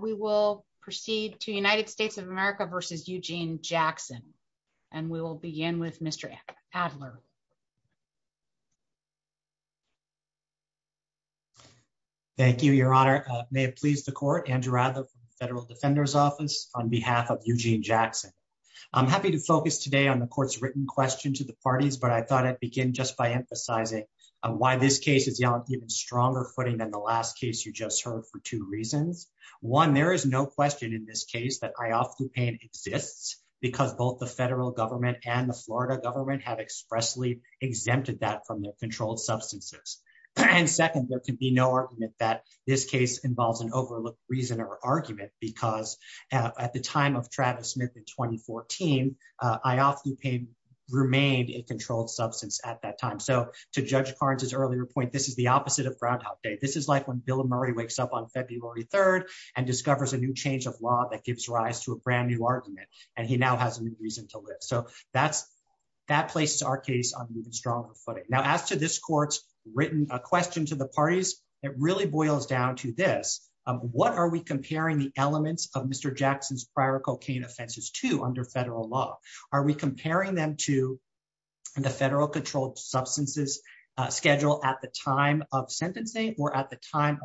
We will proceed to United States of America v. Eugene Jackson. And we will begin with Mr. Adler. Thank you, Your Honor. May it please the court, Andrew Adler from the Federal Defender's Office on behalf of Eugene Jackson. I'm happy to focus today on the court's written question to the parties, but I thought I'd begin just by emphasizing why this case is on an even for two reasons. One, there is no question in this case that Ioffe DuPain exists because both the federal government and the Florida government have expressly exempted that from their controlled substances. And second, there can be no argument that this case involves an overlooked reason or argument because at the time of Travis Smith in 2014, Ioffe DuPain remained a controlled substance at that time. So to Judge Carnes' earlier point, this is the opposite of Groundhog Day. This is when Bill Murray wakes up on February 3rd and discovers a new change of law that gives rise to a brand new argument, and he now has a new reason to live. So that places our case on an even stronger footing. Now, as to this court's written question to the parties, it really boils down to this. What are we comparing the elements of Mr. Jackson's prior cocaine offenses to under federal law? Are we comparing them to the federal controlled substances schedule at the time of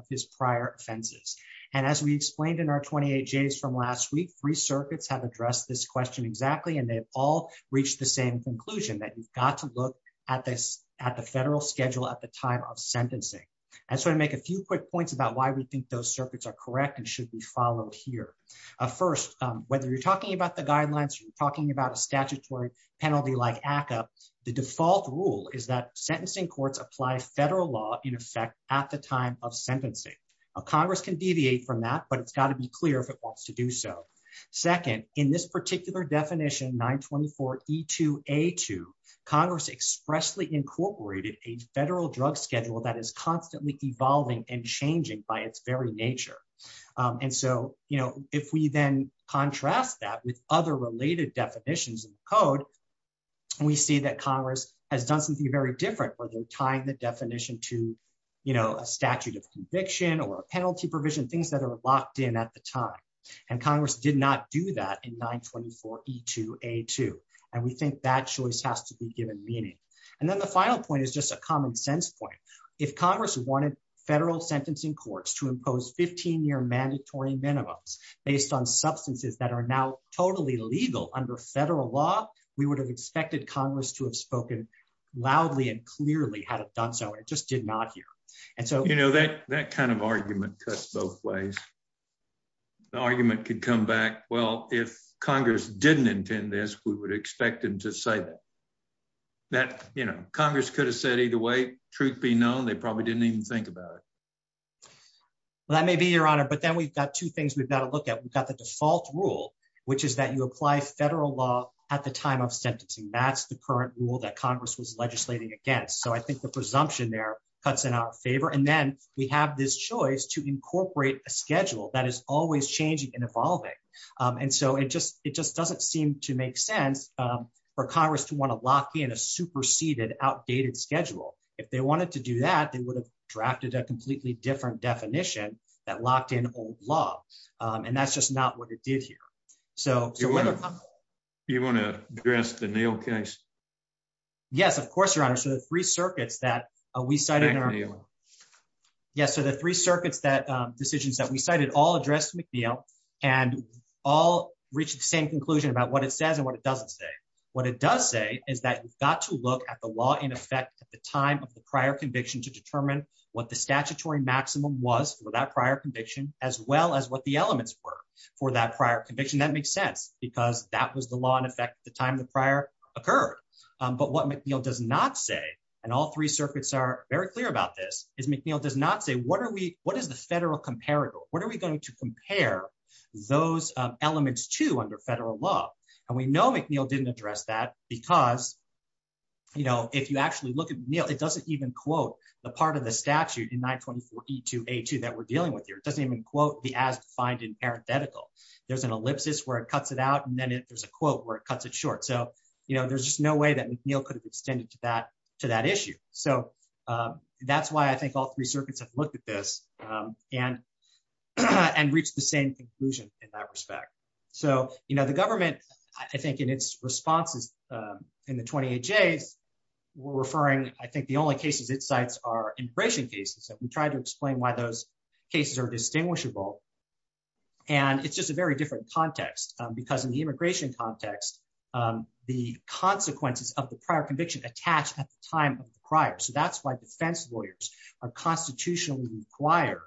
his prior offenses? And as we explained in our 28Js from last week, three circuits have addressed this question exactly, and they've all reached the same conclusion, that you've got to look at the federal schedule at the time of sentencing. And so to make a few quick points about why we think those circuits are correct and should be followed here. First, whether you're talking about the guidelines or you're talking about a statutory penalty like ACCA, the default rule is that sentencing courts apply federal law, in effect, at the time of sentencing. Congress can deviate from that, but it's got to be clear if it wants to do so. Second, in this particular definition, 924E2A2, Congress expressly incorporated a federal drug schedule that is constantly evolving and changing by its very nature. And so if we then contrast that with other related definitions in the code, we see that Congress has done something very different where they're tying the definition to a statute of conviction or a penalty provision, things that are locked in at the time. And Congress did not do that in 924E2A2. And we think that choice has to be given meaning. And then the final point is just a common sense point. If Congress wanted federal sentencing courts to impose 15-year mandatory minimums based on substances that are now totally legal under federal law, we would have expected Congress to have spoken loudly and clearly had it done so. It just did not here. And so... You know, that kind of argument cuts both ways. The argument could come back, well, if Congress didn't intend this, we would expect them to say that. That, you know, Congress could have said either way, truth be known, they probably didn't even think about it. Well, that may be your honor. But then we've got two things we've got to look at. We've got the default rule, which is that you apply federal law at the time of sentencing. That's the current rule that Congress was legislating against. So I think the presumption there cuts in our favor. And then we have this choice to incorporate a schedule that is always changing and evolving. And so it just doesn't seem to make sense for Congress to want to lock in a superseded, outdated schedule. If they wanted to do that, they would have drafted a completely different definition that locked in old law. And that's just not what it did here. You want to address the McNeil case? Yes, of course, your honor. So the three circuits that we cited... Yes, so the three circuits that decisions that we cited all address McNeil, and all reach the same conclusion about what it says and what it doesn't say. What it does say is that we've got to look at the law in effect at the time of the prior conviction to determine what the statutory maximum was for that prior conviction, as well as what the elements were for that prior conviction. That makes sense, because that was the law in effect at the time the prior occurred. But what McNeil does not say, and all three circuits are very clear about this, is McNeil does not say, what is the federal comparator? What are we going to compare those elements to under federal law? And we know McNeil didn't address that, because if you actually look at McNeil, it doesn't even quote the part of the statute in 924E2A2 that we're dealing with here. It doesn't even quote the as defined in parenthetical. There's an ellipsis where it cuts it out, and then there's a quote where it cuts it short. So there's just no way that McNeil could have extended to that issue. So that's why I think all three circuits have looked at this and reached the same conclusion in that respect. So the government, I think, in its responses in the 28Js, were referring, I think, the only cases it cites are immigration cases. So we tried to explain why those cases are distinguishable. And it's just a very different context, because in the immigration context, the consequences of the prior conviction attach at the time of the prior. So that's why defense lawyers are constitutionally required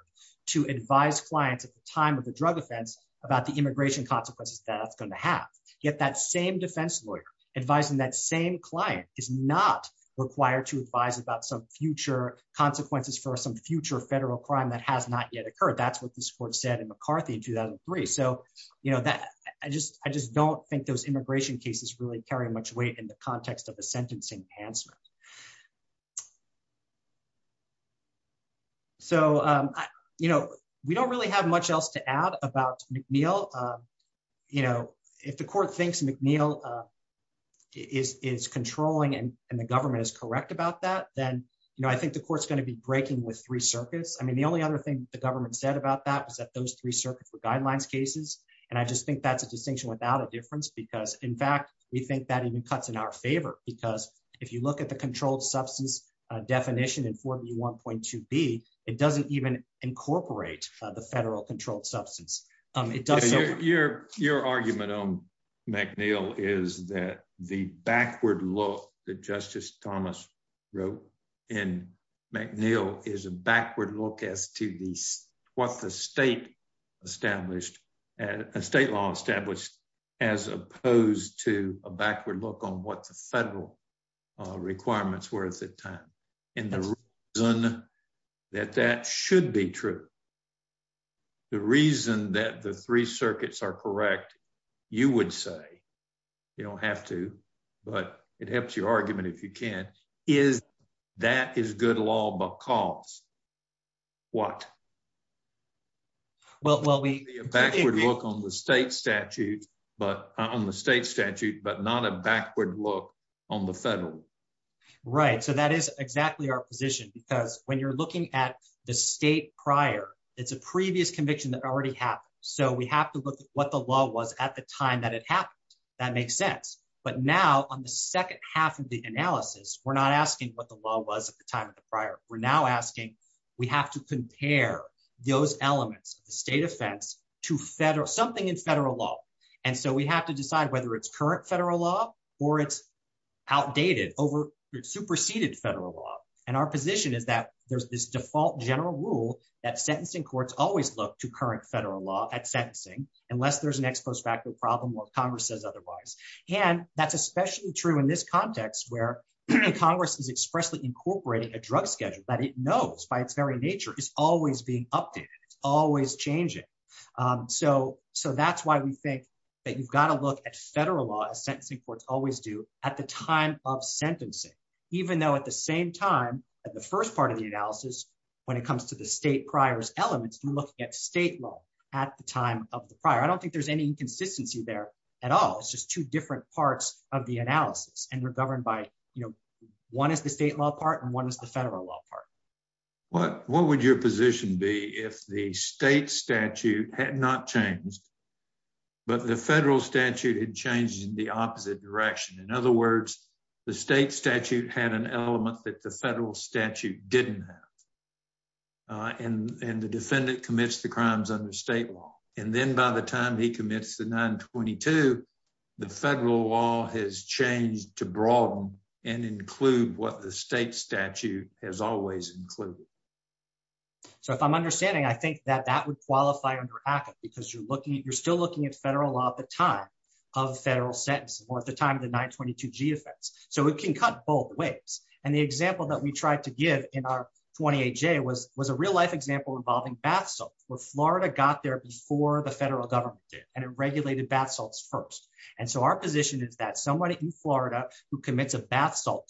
to advise clients at the time of the drug offense about the immigration consequences that that's going to have. Yet that same defense lawyer advising that same client is not required to advise about some future consequences for some future federal crime that has not yet occurred. That's what this court said in McCarthy in 2003. So I just don't think those immigration cases really carry much weight in the context of a sentencing enhancement. So we don't really have much else to add about McNeil. You know, if the court thinks McNeil is controlling and the government is correct about that, then, you know, I think the court's going to be breaking with three circuits. I mean, the only other thing the government said about that was that those three circuits were guidelines cases. And I just think that's a distinction without a difference, because in fact, we think that even cuts in our favor. Because if you look at the controlled substance definition in 4B1.2b, it doesn't even incorporate the federal controlled substance. Your argument on McNeil is that the backward look that Justice Thomas wrote in McNeil is a backward look as to what the state established, state law established, as opposed to a backward look on what the federal requirements were at the time. And the reason that that should be true, the reason that the three circuits are correct, you would say, you don't have to, but it helps your argument if you can, is that is good law because what? Well, well, we look on the state statute, but on the state statute, but not a backward look on the federal. Right. So that is exactly our position. Because when you're looking at the state prior, it's a previous conviction that already happened. So we have to look at what the law was at the time that it happened. That makes sense. But now on the second half of the analysis, we're not asking what the law was at the time of the prior, we're now asking, we have to compare those elements of the state offense to federal, something in federal law. And so we have to decide whether it's current federal law, or it's outdated, over superseded federal law. And our position is that there's this default general rule that sentencing courts always look to current federal law at sentencing, unless there's an ex post facto problem or Congress says otherwise. And that's especially true in this context, where Congress is expressly incorporating a drug schedule that it knows by its very nature is always being updated, it's always changing. So that's why we think that you've got to look at federal law sentencing courts always do at the time of sentencing, even though at the same time, at the first part of the analysis, when it comes to the state priors elements, we're looking at state law at the time of the prior, I don't think there's any inconsistency there at all. It's just two different parts of the analysis. And we're governed by, you know, one is the state law part, and one is the federal law part. What what would your position be if the state statute had not changed, but the federal statute had changed in the opposite direction? In other words, the state statute had an element that the federal statute didn't have. And the defendant commits the crimes under state law. And then by the time he commits the 922, the federal law has changed to broaden and include what the state statute has always included. So if I'm understanding, I think that that would qualify under ACCA, because you're looking, you're still looking at federal law at the time of federal sentences or at the time of the 922g offense. So it can cut both ways. And the example that we tried to give in our 28j was was a real life example involving bath salts, where Florida got there before the federal government did, and it regulated bath salts first. And so our position is that somebody in Florida who commits a bath salt,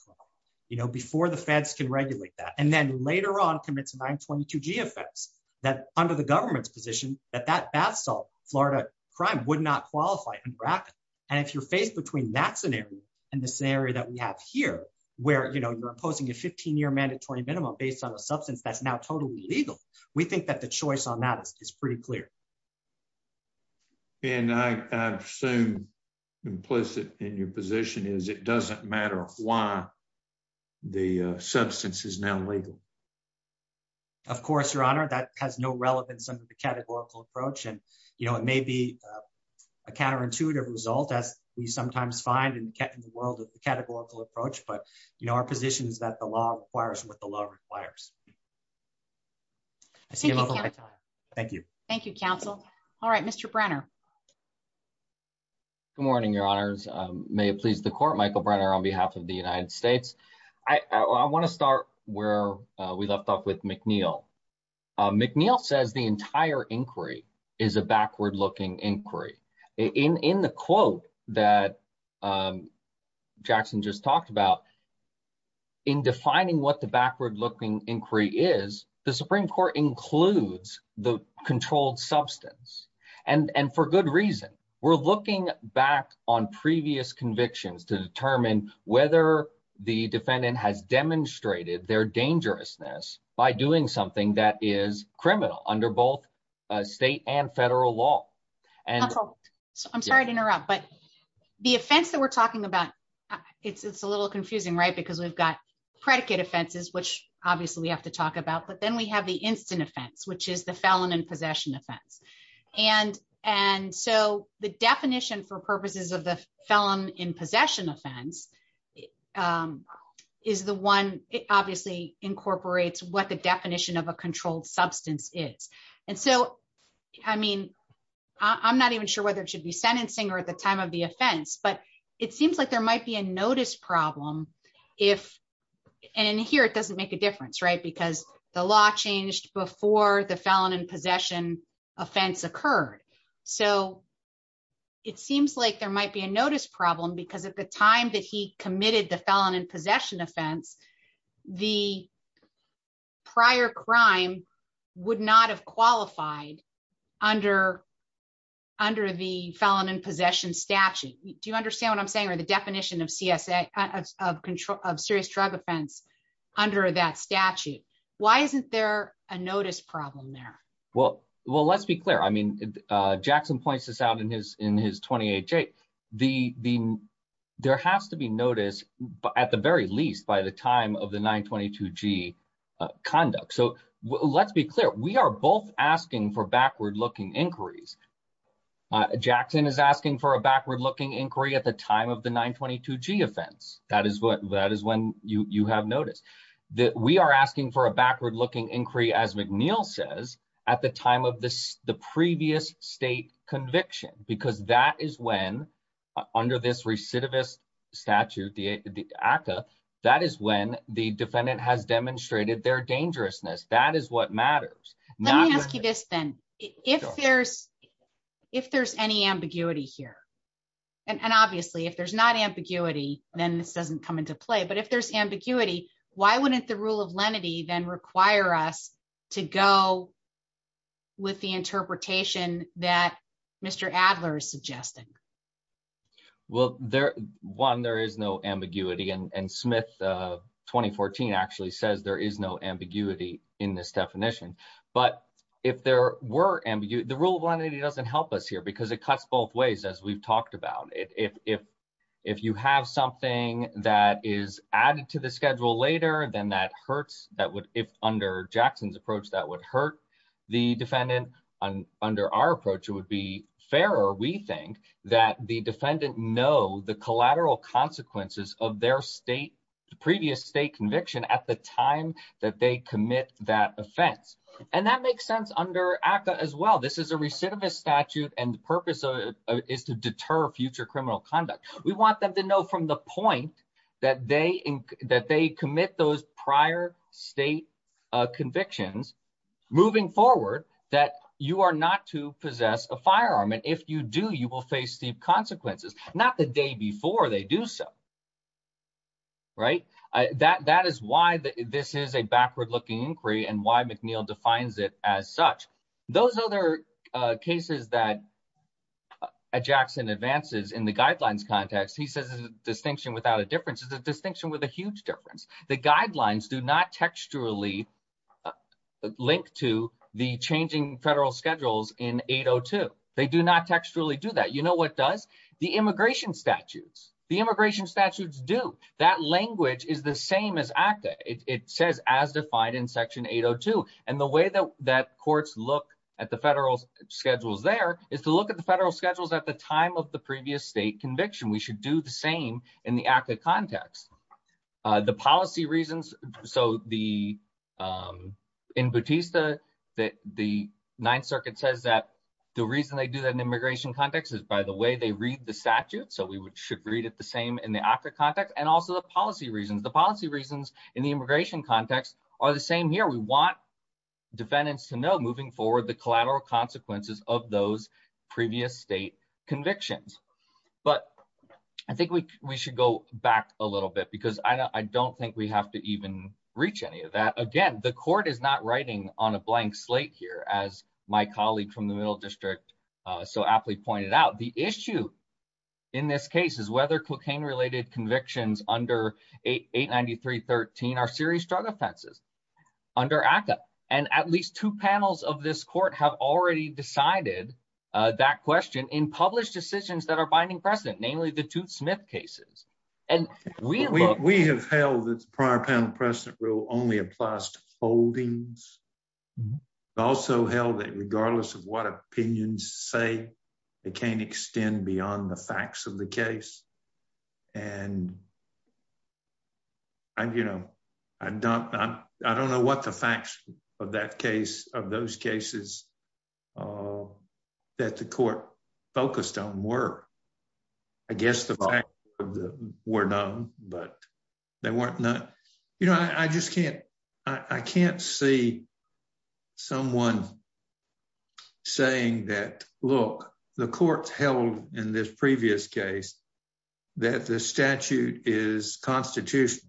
you know, before the feds can regulate that, and then later on commits 922g offense, that under the government's position that that bath salt Florida crime would not qualify under ACCA. And if you're faced between that scenario, and the scenario that you have here, where you know, you're imposing a 15 year mandatory minimum based on a substance that's now totally legal, we think that the choice on that is pretty clear. And I assume implicit in your position is it doesn't matter why the substance is now legal. Of course, Your Honor, that has no relevance under the categorical approach. And, you know, it may be a counterintuitive result, as we sometimes find in the world of the categorical approach. But, you know, our position is that the law requires what the law requires. Thank you. Thank you, counsel. All right, Mr. Brenner. Good morning, Your Honors. May it please the Court, Michael Brenner on behalf of the United States. I want to start where we left off with McNeil. McNeil says the entire inquiry is a backward looking inquiry. In the quote that Jackson just talked about, in defining what the backward looking inquiry is, the Supreme Court includes the controlled substance. And for good reason, we're looking back on previous convictions to determine whether the defendant has demonstrated their dangerousness by doing something that is criminal under both state and federal law. I'm sorry to interrupt, but the offense that we're talking about, it's a little confusing, right? Because we've got predicate offenses, which obviously we have to talk about. But then we have the instant offense, which is the felon in possession offense. And so the definition for incorporates what the definition of a controlled substance is. And so, I mean, I'm not even sure whether it should be sentencing or at the time of the offense, but it seems like there might be a notice problem if, and here it doesn't make a difference, right? Because the law changed before the felon in possession offense occurred. So it seems like there might be a notice problem because the time that he committed the felon in possession offense, the prior crime would not have qualified under the felon in possession statute. Do you understand what I'm saying? Or the definition of serious drug offense under that statute? Why isn't there a notice problem Well, let's be clear. I mean, Jackson points this out in his 28-J. There has to be notice at the very least by the time of the 922-G conduct. So let's be clear. We are both asking for backward-looking inquiries. Jackson is asking for a backward-looking inquiry at the time of the 922-G offense. That is when you have notice. We are asking for a backward-looking inquiry, as McNeil says, at the time of the previous state conviction, because that is when, under this recidivist statute, the ACCA, that is when the defendant has demonstrated their dangerousness. That is what matters. Let me ask you this then. If there's any ambiguity here, and obviously if there's not ambiguity, then this doesn't come into play, but if there's ambiguity, why wouldn't the rule of lenity then require us to go with the interpretation that Mr. Adler is suggesting? Well, one, there is no ambiguity, and Smith 2014 actually says there is no ambiguity in this definition. But if there were ambiguity, the rule of lenity doesn't help us here because it cuts both ways, as we've talked about. If you have something that is added to the schedule later, then that hurts. Under Jackson's approach, that would hurt the defendant. Under our approach, it would be fairer, we think, that the defendant know the collateral consequences of their previous state conviction at the time that they commit that offense. And that makes sense under ACCA as well. This is a recidivist statute and the purpose of it is to deter future criminal conduct. We want them to know from the point that they commit those prior state convictions, moving forward, that you are not to possess a firearm. And if you do, you will face steep consequences, not the day before they do so. That is why this is a backward-looking inquiry and why McNeil defines it as such. Those other cases that Jackson advances in the guidelines context, he says it's a distinction without a difference. It's a distinction with a huge difference. The guidelines do not textually link to the changing federal schedules in 802. They do not textually do that. You know what does? The immigration statutes. The immigration statutes do. That language is the same as ACCA. It says as defined in section 802. And the way that courts look at the federal schedules there is to look at the federal schedules at the time of the previous state conviction. We should do the same in the ACCA context. The policy reasons, so in Bautista, the Ninth Circuit says that the reason they do that in immigration context is by the way they read the statute. So we should read it the same in the ACCA context and also the policy reasons. The policy reasons in the immigration context are the same here. We want defendants to know moving forward the collateral consequences of those previous state convictions. But I think we should go back a little bit because I don't think we have to even reach any of that. Again, the court is not writing on a blank slate here as my colleague from the Middle District so aptly pointed out. The issue in this case is whether cocaine-related convictions under 893.13 are serious drug offenses under ACCA. And at least two panels of this court have already decided that question in published decisions that are binding precedent, namely the Tooth Smith cases. We have held that the prior panel precedent rule only applies to holdings. We've also held that regardless of what opinions say, they can't extend beyond the facts of the case. And I don't know what the facts of that case, of those cases that the court focused on were. I guess the facts were known, but they weren't known. I can't see someone saying that, look, the court held in this previous case that the statute is constitutional.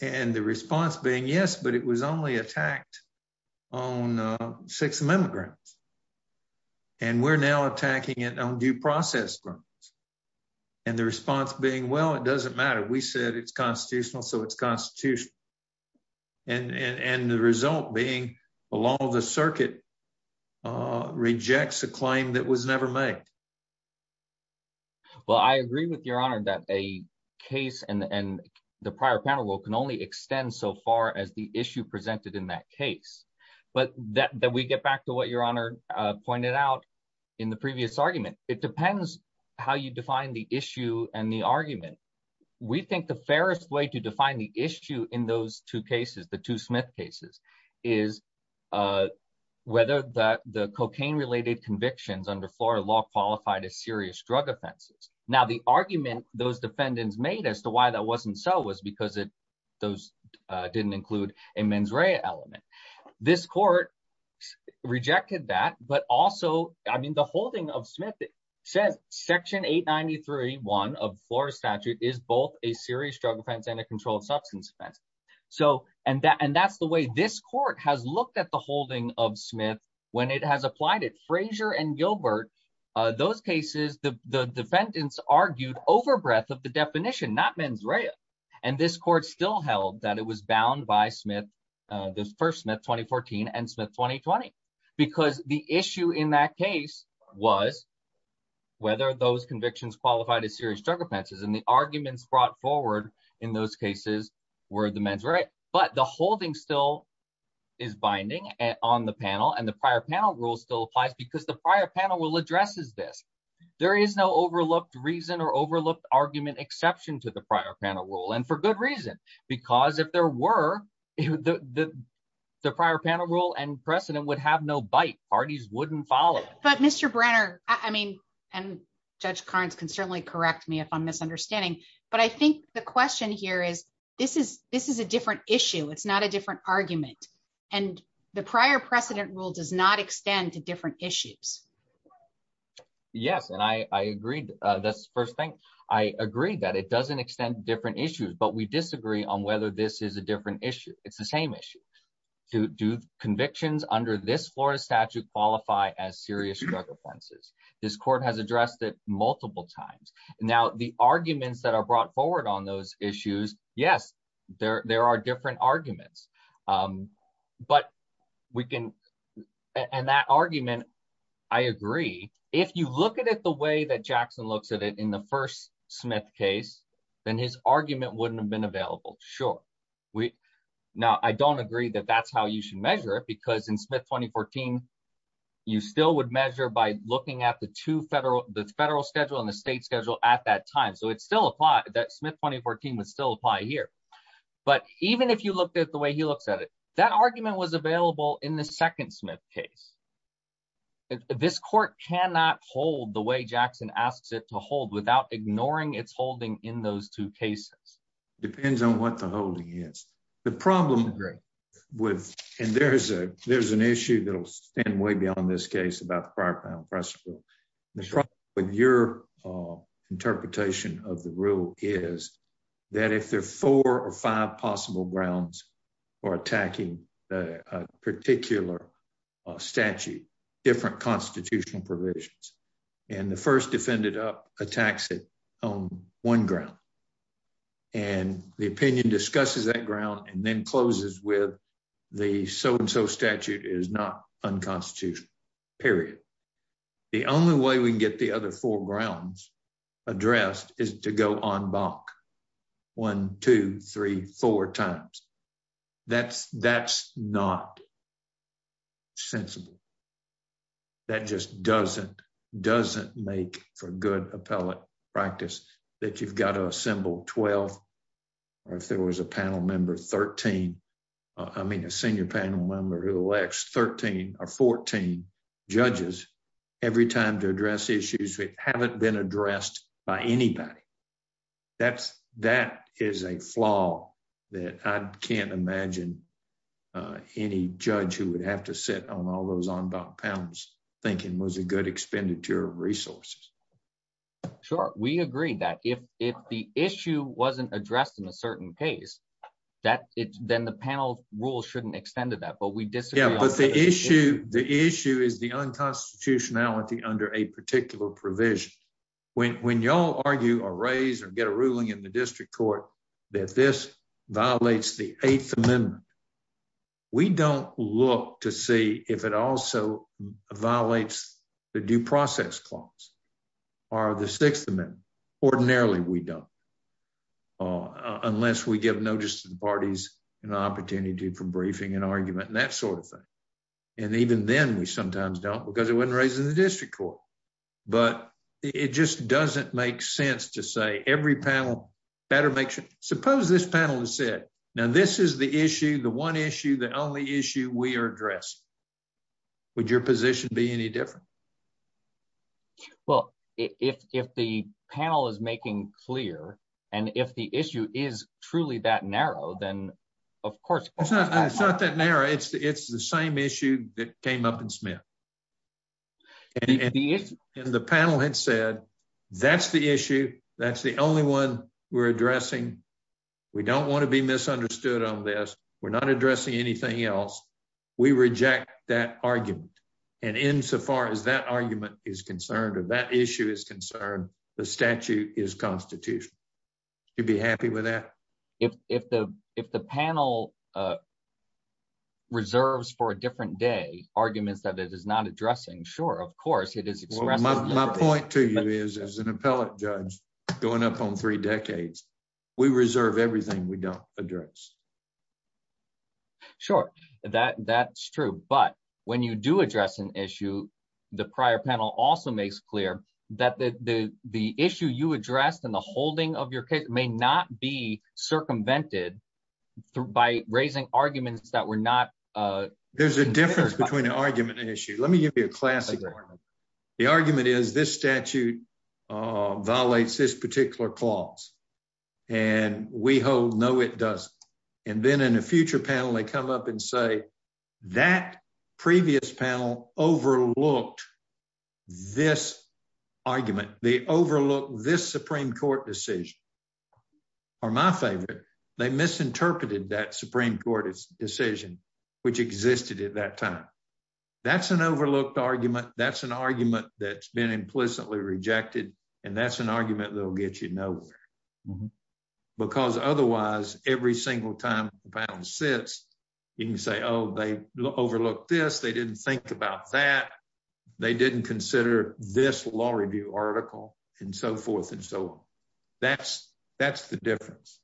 And the response being, yes, but it was only attacked on Sixth Amendment grounds. And we're now attacking it on due process grounds. And the response being, well, it doesn't matter. We said it's constitutional, so it's constitutional. And the result being, the law of the circuit rejects a claim that was never made. Well, I agree with Your Honor that a case and the prior panel rule can only extend so far as the issue presented in that case. But we get back to what Your Honor pointed out in the previous argument. It depends how you define the issue and the argument. We think the fairest way to define the issue in those two cases, the Tooth Smith cases, is whether the cocaine-related convictions under Florida law qualified as serious drug offenses. Now, the argument those defendants made as to why that wasn't so was because those didn't include a mens rea element. This court rejected that. But also, I mean, the holding of Smith says Section 893.1 of Florida statute is both a serious drug offense and a controlled substance offense. And that's the way this court has looked at the holding of Smith when it has applied it. Frazier and Gilbert, those cases, the defendants argued over breadth of the definition, not mens rea. And this court still held that it was bound by the first Smith 2014 and Smith 2020. Because the issue in that case was whether those convictions qualified as serious drug offenses. And the arguments brought forward in those cases were the mens rea. But the holding still is binding on the panel. And the prior panel still applies because the prior panel rule addresses this. There is no overlooked reason or overlooked argument exception to the prior panel rule. And for good reason. Because if there were, the prior panel rule and precedent would have no bite. Parties wouldn't follow. But Mr. Brenner, I mean, and Judge Carnes can certainly correct me if I'm misunderstanding. But I think the question here is, this is a different issue. It's not a different argument. And the prior precedent rule does not extend to different issues. Yes, and I agreed. That's the first thing. I agree that it doesn't extend to different issues. But we disagree on whether this is a different issue. It's the same issue. Do convictions under this Florida statute qualify as serious drug offenses? This court has addressed it multiple times. Now the arguments that are brought forward on those issues, yes, there are different arguments. And that argument, I agree. If you look at it the way that Jackson looks at it in the first Smith case, then his argument wouldn't have been available. Sure. Now, I don't agree that that's how you should measure it. Because in Smith 2014, you still would measure by looking at the federal schedule and the state schedule at that time. So that Smith 2014 would still apply here. But even if you looked at the way he looks at it, that argument was available in the second Smith case. This court cannot hold the way Jackson asks it to hold without ignoring its holding in those two cases. Depends on what the holding is. The problem with, and there's an issue that will stand way beyond this case about the prior precedent. The problem with your interpretation of the rule is that if there are four or five possible grounds for attacking a particular statute, different constitutional provisions, and the first defendant up attacks it on one ground, and the opinion discusses that ground and then closes with the so-and-so statute is not unconstitutional, period. The only way we can get the other four grounds addressed is to go en banc one, two, three, four times. That's not sensible. That just doesn't make for good appellate practice that you've got to panel member 13, I mean a senior panel member who elects 13 or 14 judges every time to address issues that haven't been addressed by anybody. That is a flaw that I can't imagine any judge who would have to sit on all those en banc panels thinking was a good expenditure of resources. Sure, we agree that if the issue wasn't addressed in a certain case then the panel rule shouldn't extend to that, but we disagree. Yeah, but the issue is the unconstitutionality under a particular provision. When y'all argue or raise or get a ruling in the district court that this violates the eighth amendment, we don't look to see if it also violates the due process clause or the sixth amendment. Ordinarily, we don't unless we give notice to the parties an opportunity for briefing and argument and that sort of thing, and even then we sometimes don't because it wasn't raised in the district court, but it just doesn't make sense to say every panel better make sure. Suppose this panel has said, now this is the issue, the one issue, the only issue we are addressing. Would your position be any different? Well, if the panel is making clear and if the issue is truly that narrow, then of course. It's not that narrow, it's the same issue that came up in Smith. And the panel had said, that's the issue, that's the only one we're addressing, we don't want to be misunderstood on this, we're not addressing anything else, we reject that argument. And insofar as that argument is concerned or that issue is concerned, the statute is constitutional. You'd be happy with that? If the panel reserves for a different day arguments that it is not addressing, sure, of course. My point to you is, as an appellate judge going up on three decades, we reserve everything we don't address. Sure, that's true. But when you do address an issue, the prior panel also makes clear that the issue you addressed and the holding of your case may not be circumvented by raising arguments that were not... There's a difference between an argument and issue. Let me give you a classic argument. The argument is this statute violates this and we hold no, it doesn't. And then in a future panel, they come up and say, that previous panel overlooked this argument, they overlooked this Supreme Court decision. Or my favorite, they misinterpreted that Supreme Court decision, which existed at that time. That's an overlooked argument, that's an argument that's been implicitly rejected, and that's an argument that will get you nowhere. Because otherwise, every single time the panel sits, you can say, oh, they overlooked this, they didn't think about that, they didn't consider this law review article, and so forth and so on. That's the difference.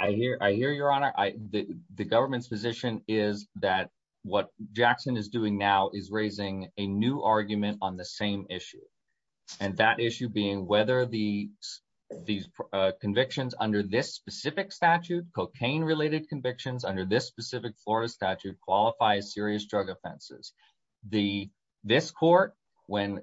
I hear your honor, the government's position is that what Jackson is doing now is raising a new argument on the same issue. And that issue being whether these convictions under this specific statute, cocaine related convictions under this specific Florida statute qualify as serious drug offenses. This court, when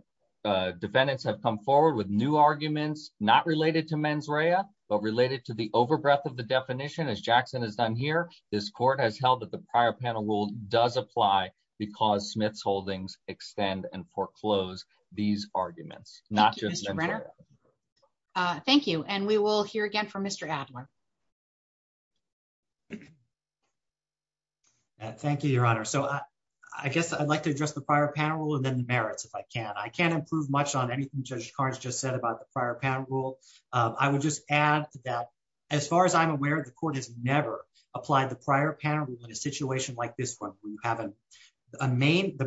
defendants have come forward with new arguments, not related to mens rea, but related to the overbreath of the definition as Jackson has done here, this court has held that the prior panel rule does apply, because Smith's holdings extend and foreclose these arguments, not just men rea. Thank you, and we will hear again from Mr. Adler. Thank you, your honor. So I guess I'd like to address the prior panel and then the merits, if I can. I can't improve much on anything Judge Karnes just said about the prior panel rule. I would just add that, as far as I'm aware, the court has never applied the prior panel in a situation like this one, where you have the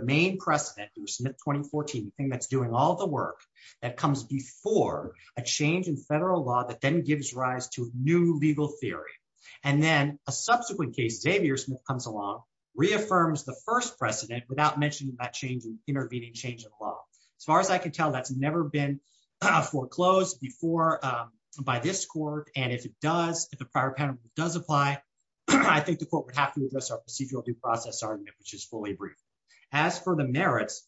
main precedent for Smith 2014, the thing that's doing all the work that comes before a change in federal law that then gives rise to new legal theory. And then a subsequent case, Xavier Smith comes along, reaffirms the first precedent without mentioning that change in intervening change in law. As far as I can tell, that's never been foreclosed before by this court. And if it does, if the prior panel does apply, I think the court would have to address our procedural due process argument, which is fully brief. As for the merits,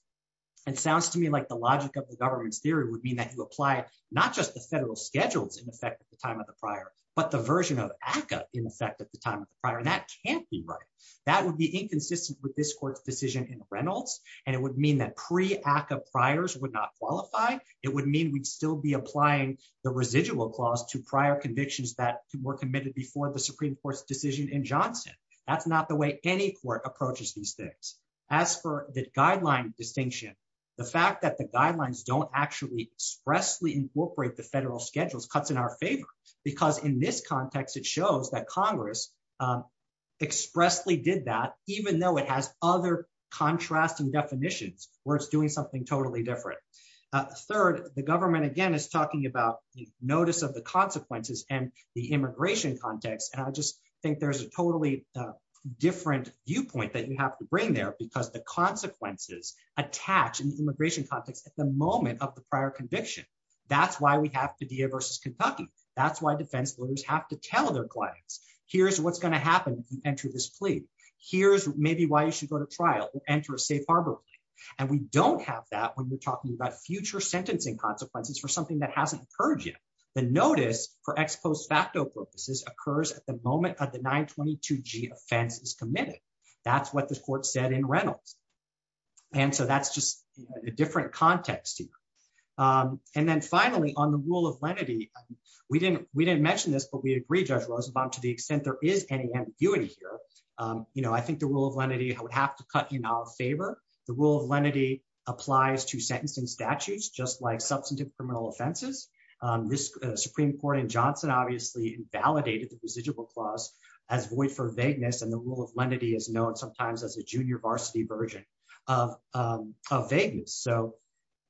it sounds to me like the logic of the government's theory would mean that you apply not just the federal schedules in effect at the time of the prior, but the version of ACCA in effect at the time of the prior. And that can't be right. That would be inconsistent with this court's decision in Reynolds. And it would mean that pre-ACCA priors would not qualify. It would mean we'd still be applying the residual clause to prior convictions that were committed before the Supreme Court's decision in Johnson. That's not the way any court approaches these things. As for the guideline distinction, the fact that the guidelines don't actually expressly incorporate the federal schedules cuts in our favor, because in this context, it shows that Congress expressly did that, even though it has other contrasting definitions where it's doing something totally different. Third, the government, again, is talking about the notice of the consequences and the immigration context. And I just think there's a totally different viewpoint that you have to bring there because the consequences attach in the immigration context at the moment of the prior conviction. That's why we have Padilla versus Kentucky. That's why defense lawyers have to tell their clients, here's what's going to happen if you enter this plea. Here's maybe why you should go to trial. Enter a safe harbor plea. And we don't have that when you're talking about future sentencing consequences for something that hasn't occurred yet. The notice for ex post facto purposes occurs at the moment of the 922G offense is committed. That's what the court said in Reynolds. And so that's just a different context here. And then finally, on the rule of lenity, we didn't mention this, but we agree, Judge Roosevelt, to the extent there is any ambiguity here, I think the rule of lenity would have to cut in our favor. The rule of lenity applies to sentencing statutes, just like substantive criminal offenses. The Supreme Court in Johnson, obviously, invalidated the residual clause as void for vagueness. And the rule of lenity is known sometimes as a junior varsity version of vagueness. So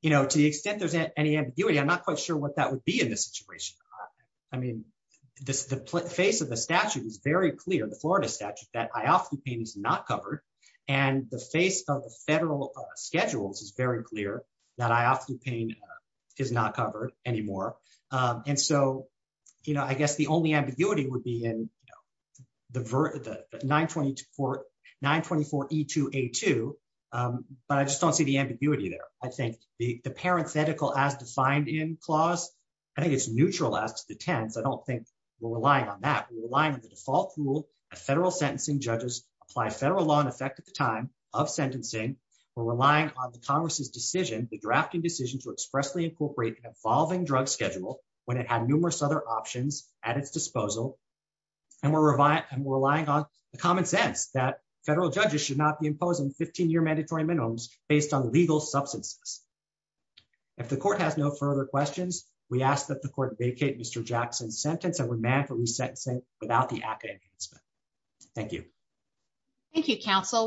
to the extent there's any ambiguity, I'm not quite sure what that would be in this situation. I mean, the face of the statute is very clear. The Florida statute that I often paint is not covered. And the face of the federal schedules is very clear that I often paint is not covered anymore. And so, you know, I guess the only ambiguity would be in the 922 for 924 E2 A2. But I just don't see the ambiguity there. I think the parenthetical as defined in clause, I think it's neutral as the 10th. I don't think we're relying on that. We're relying on the default rule of federal sentencing. Judges apply federal law in effect at the time of sentencing. We're relying on the Congress's decision, the drafting decision, to expressly incorporate an evolving drug schedule when it had numerous other options at its disposal. And we're relying on the common sense that federal judges should not be imposed on 15-year mandatory minimums based on legal substances. If the court has no further questions, we ask that the court vacate Mr. Jackson's sentence and remand for resentencing without the active enhancement. Thank you. Thank you, counsel.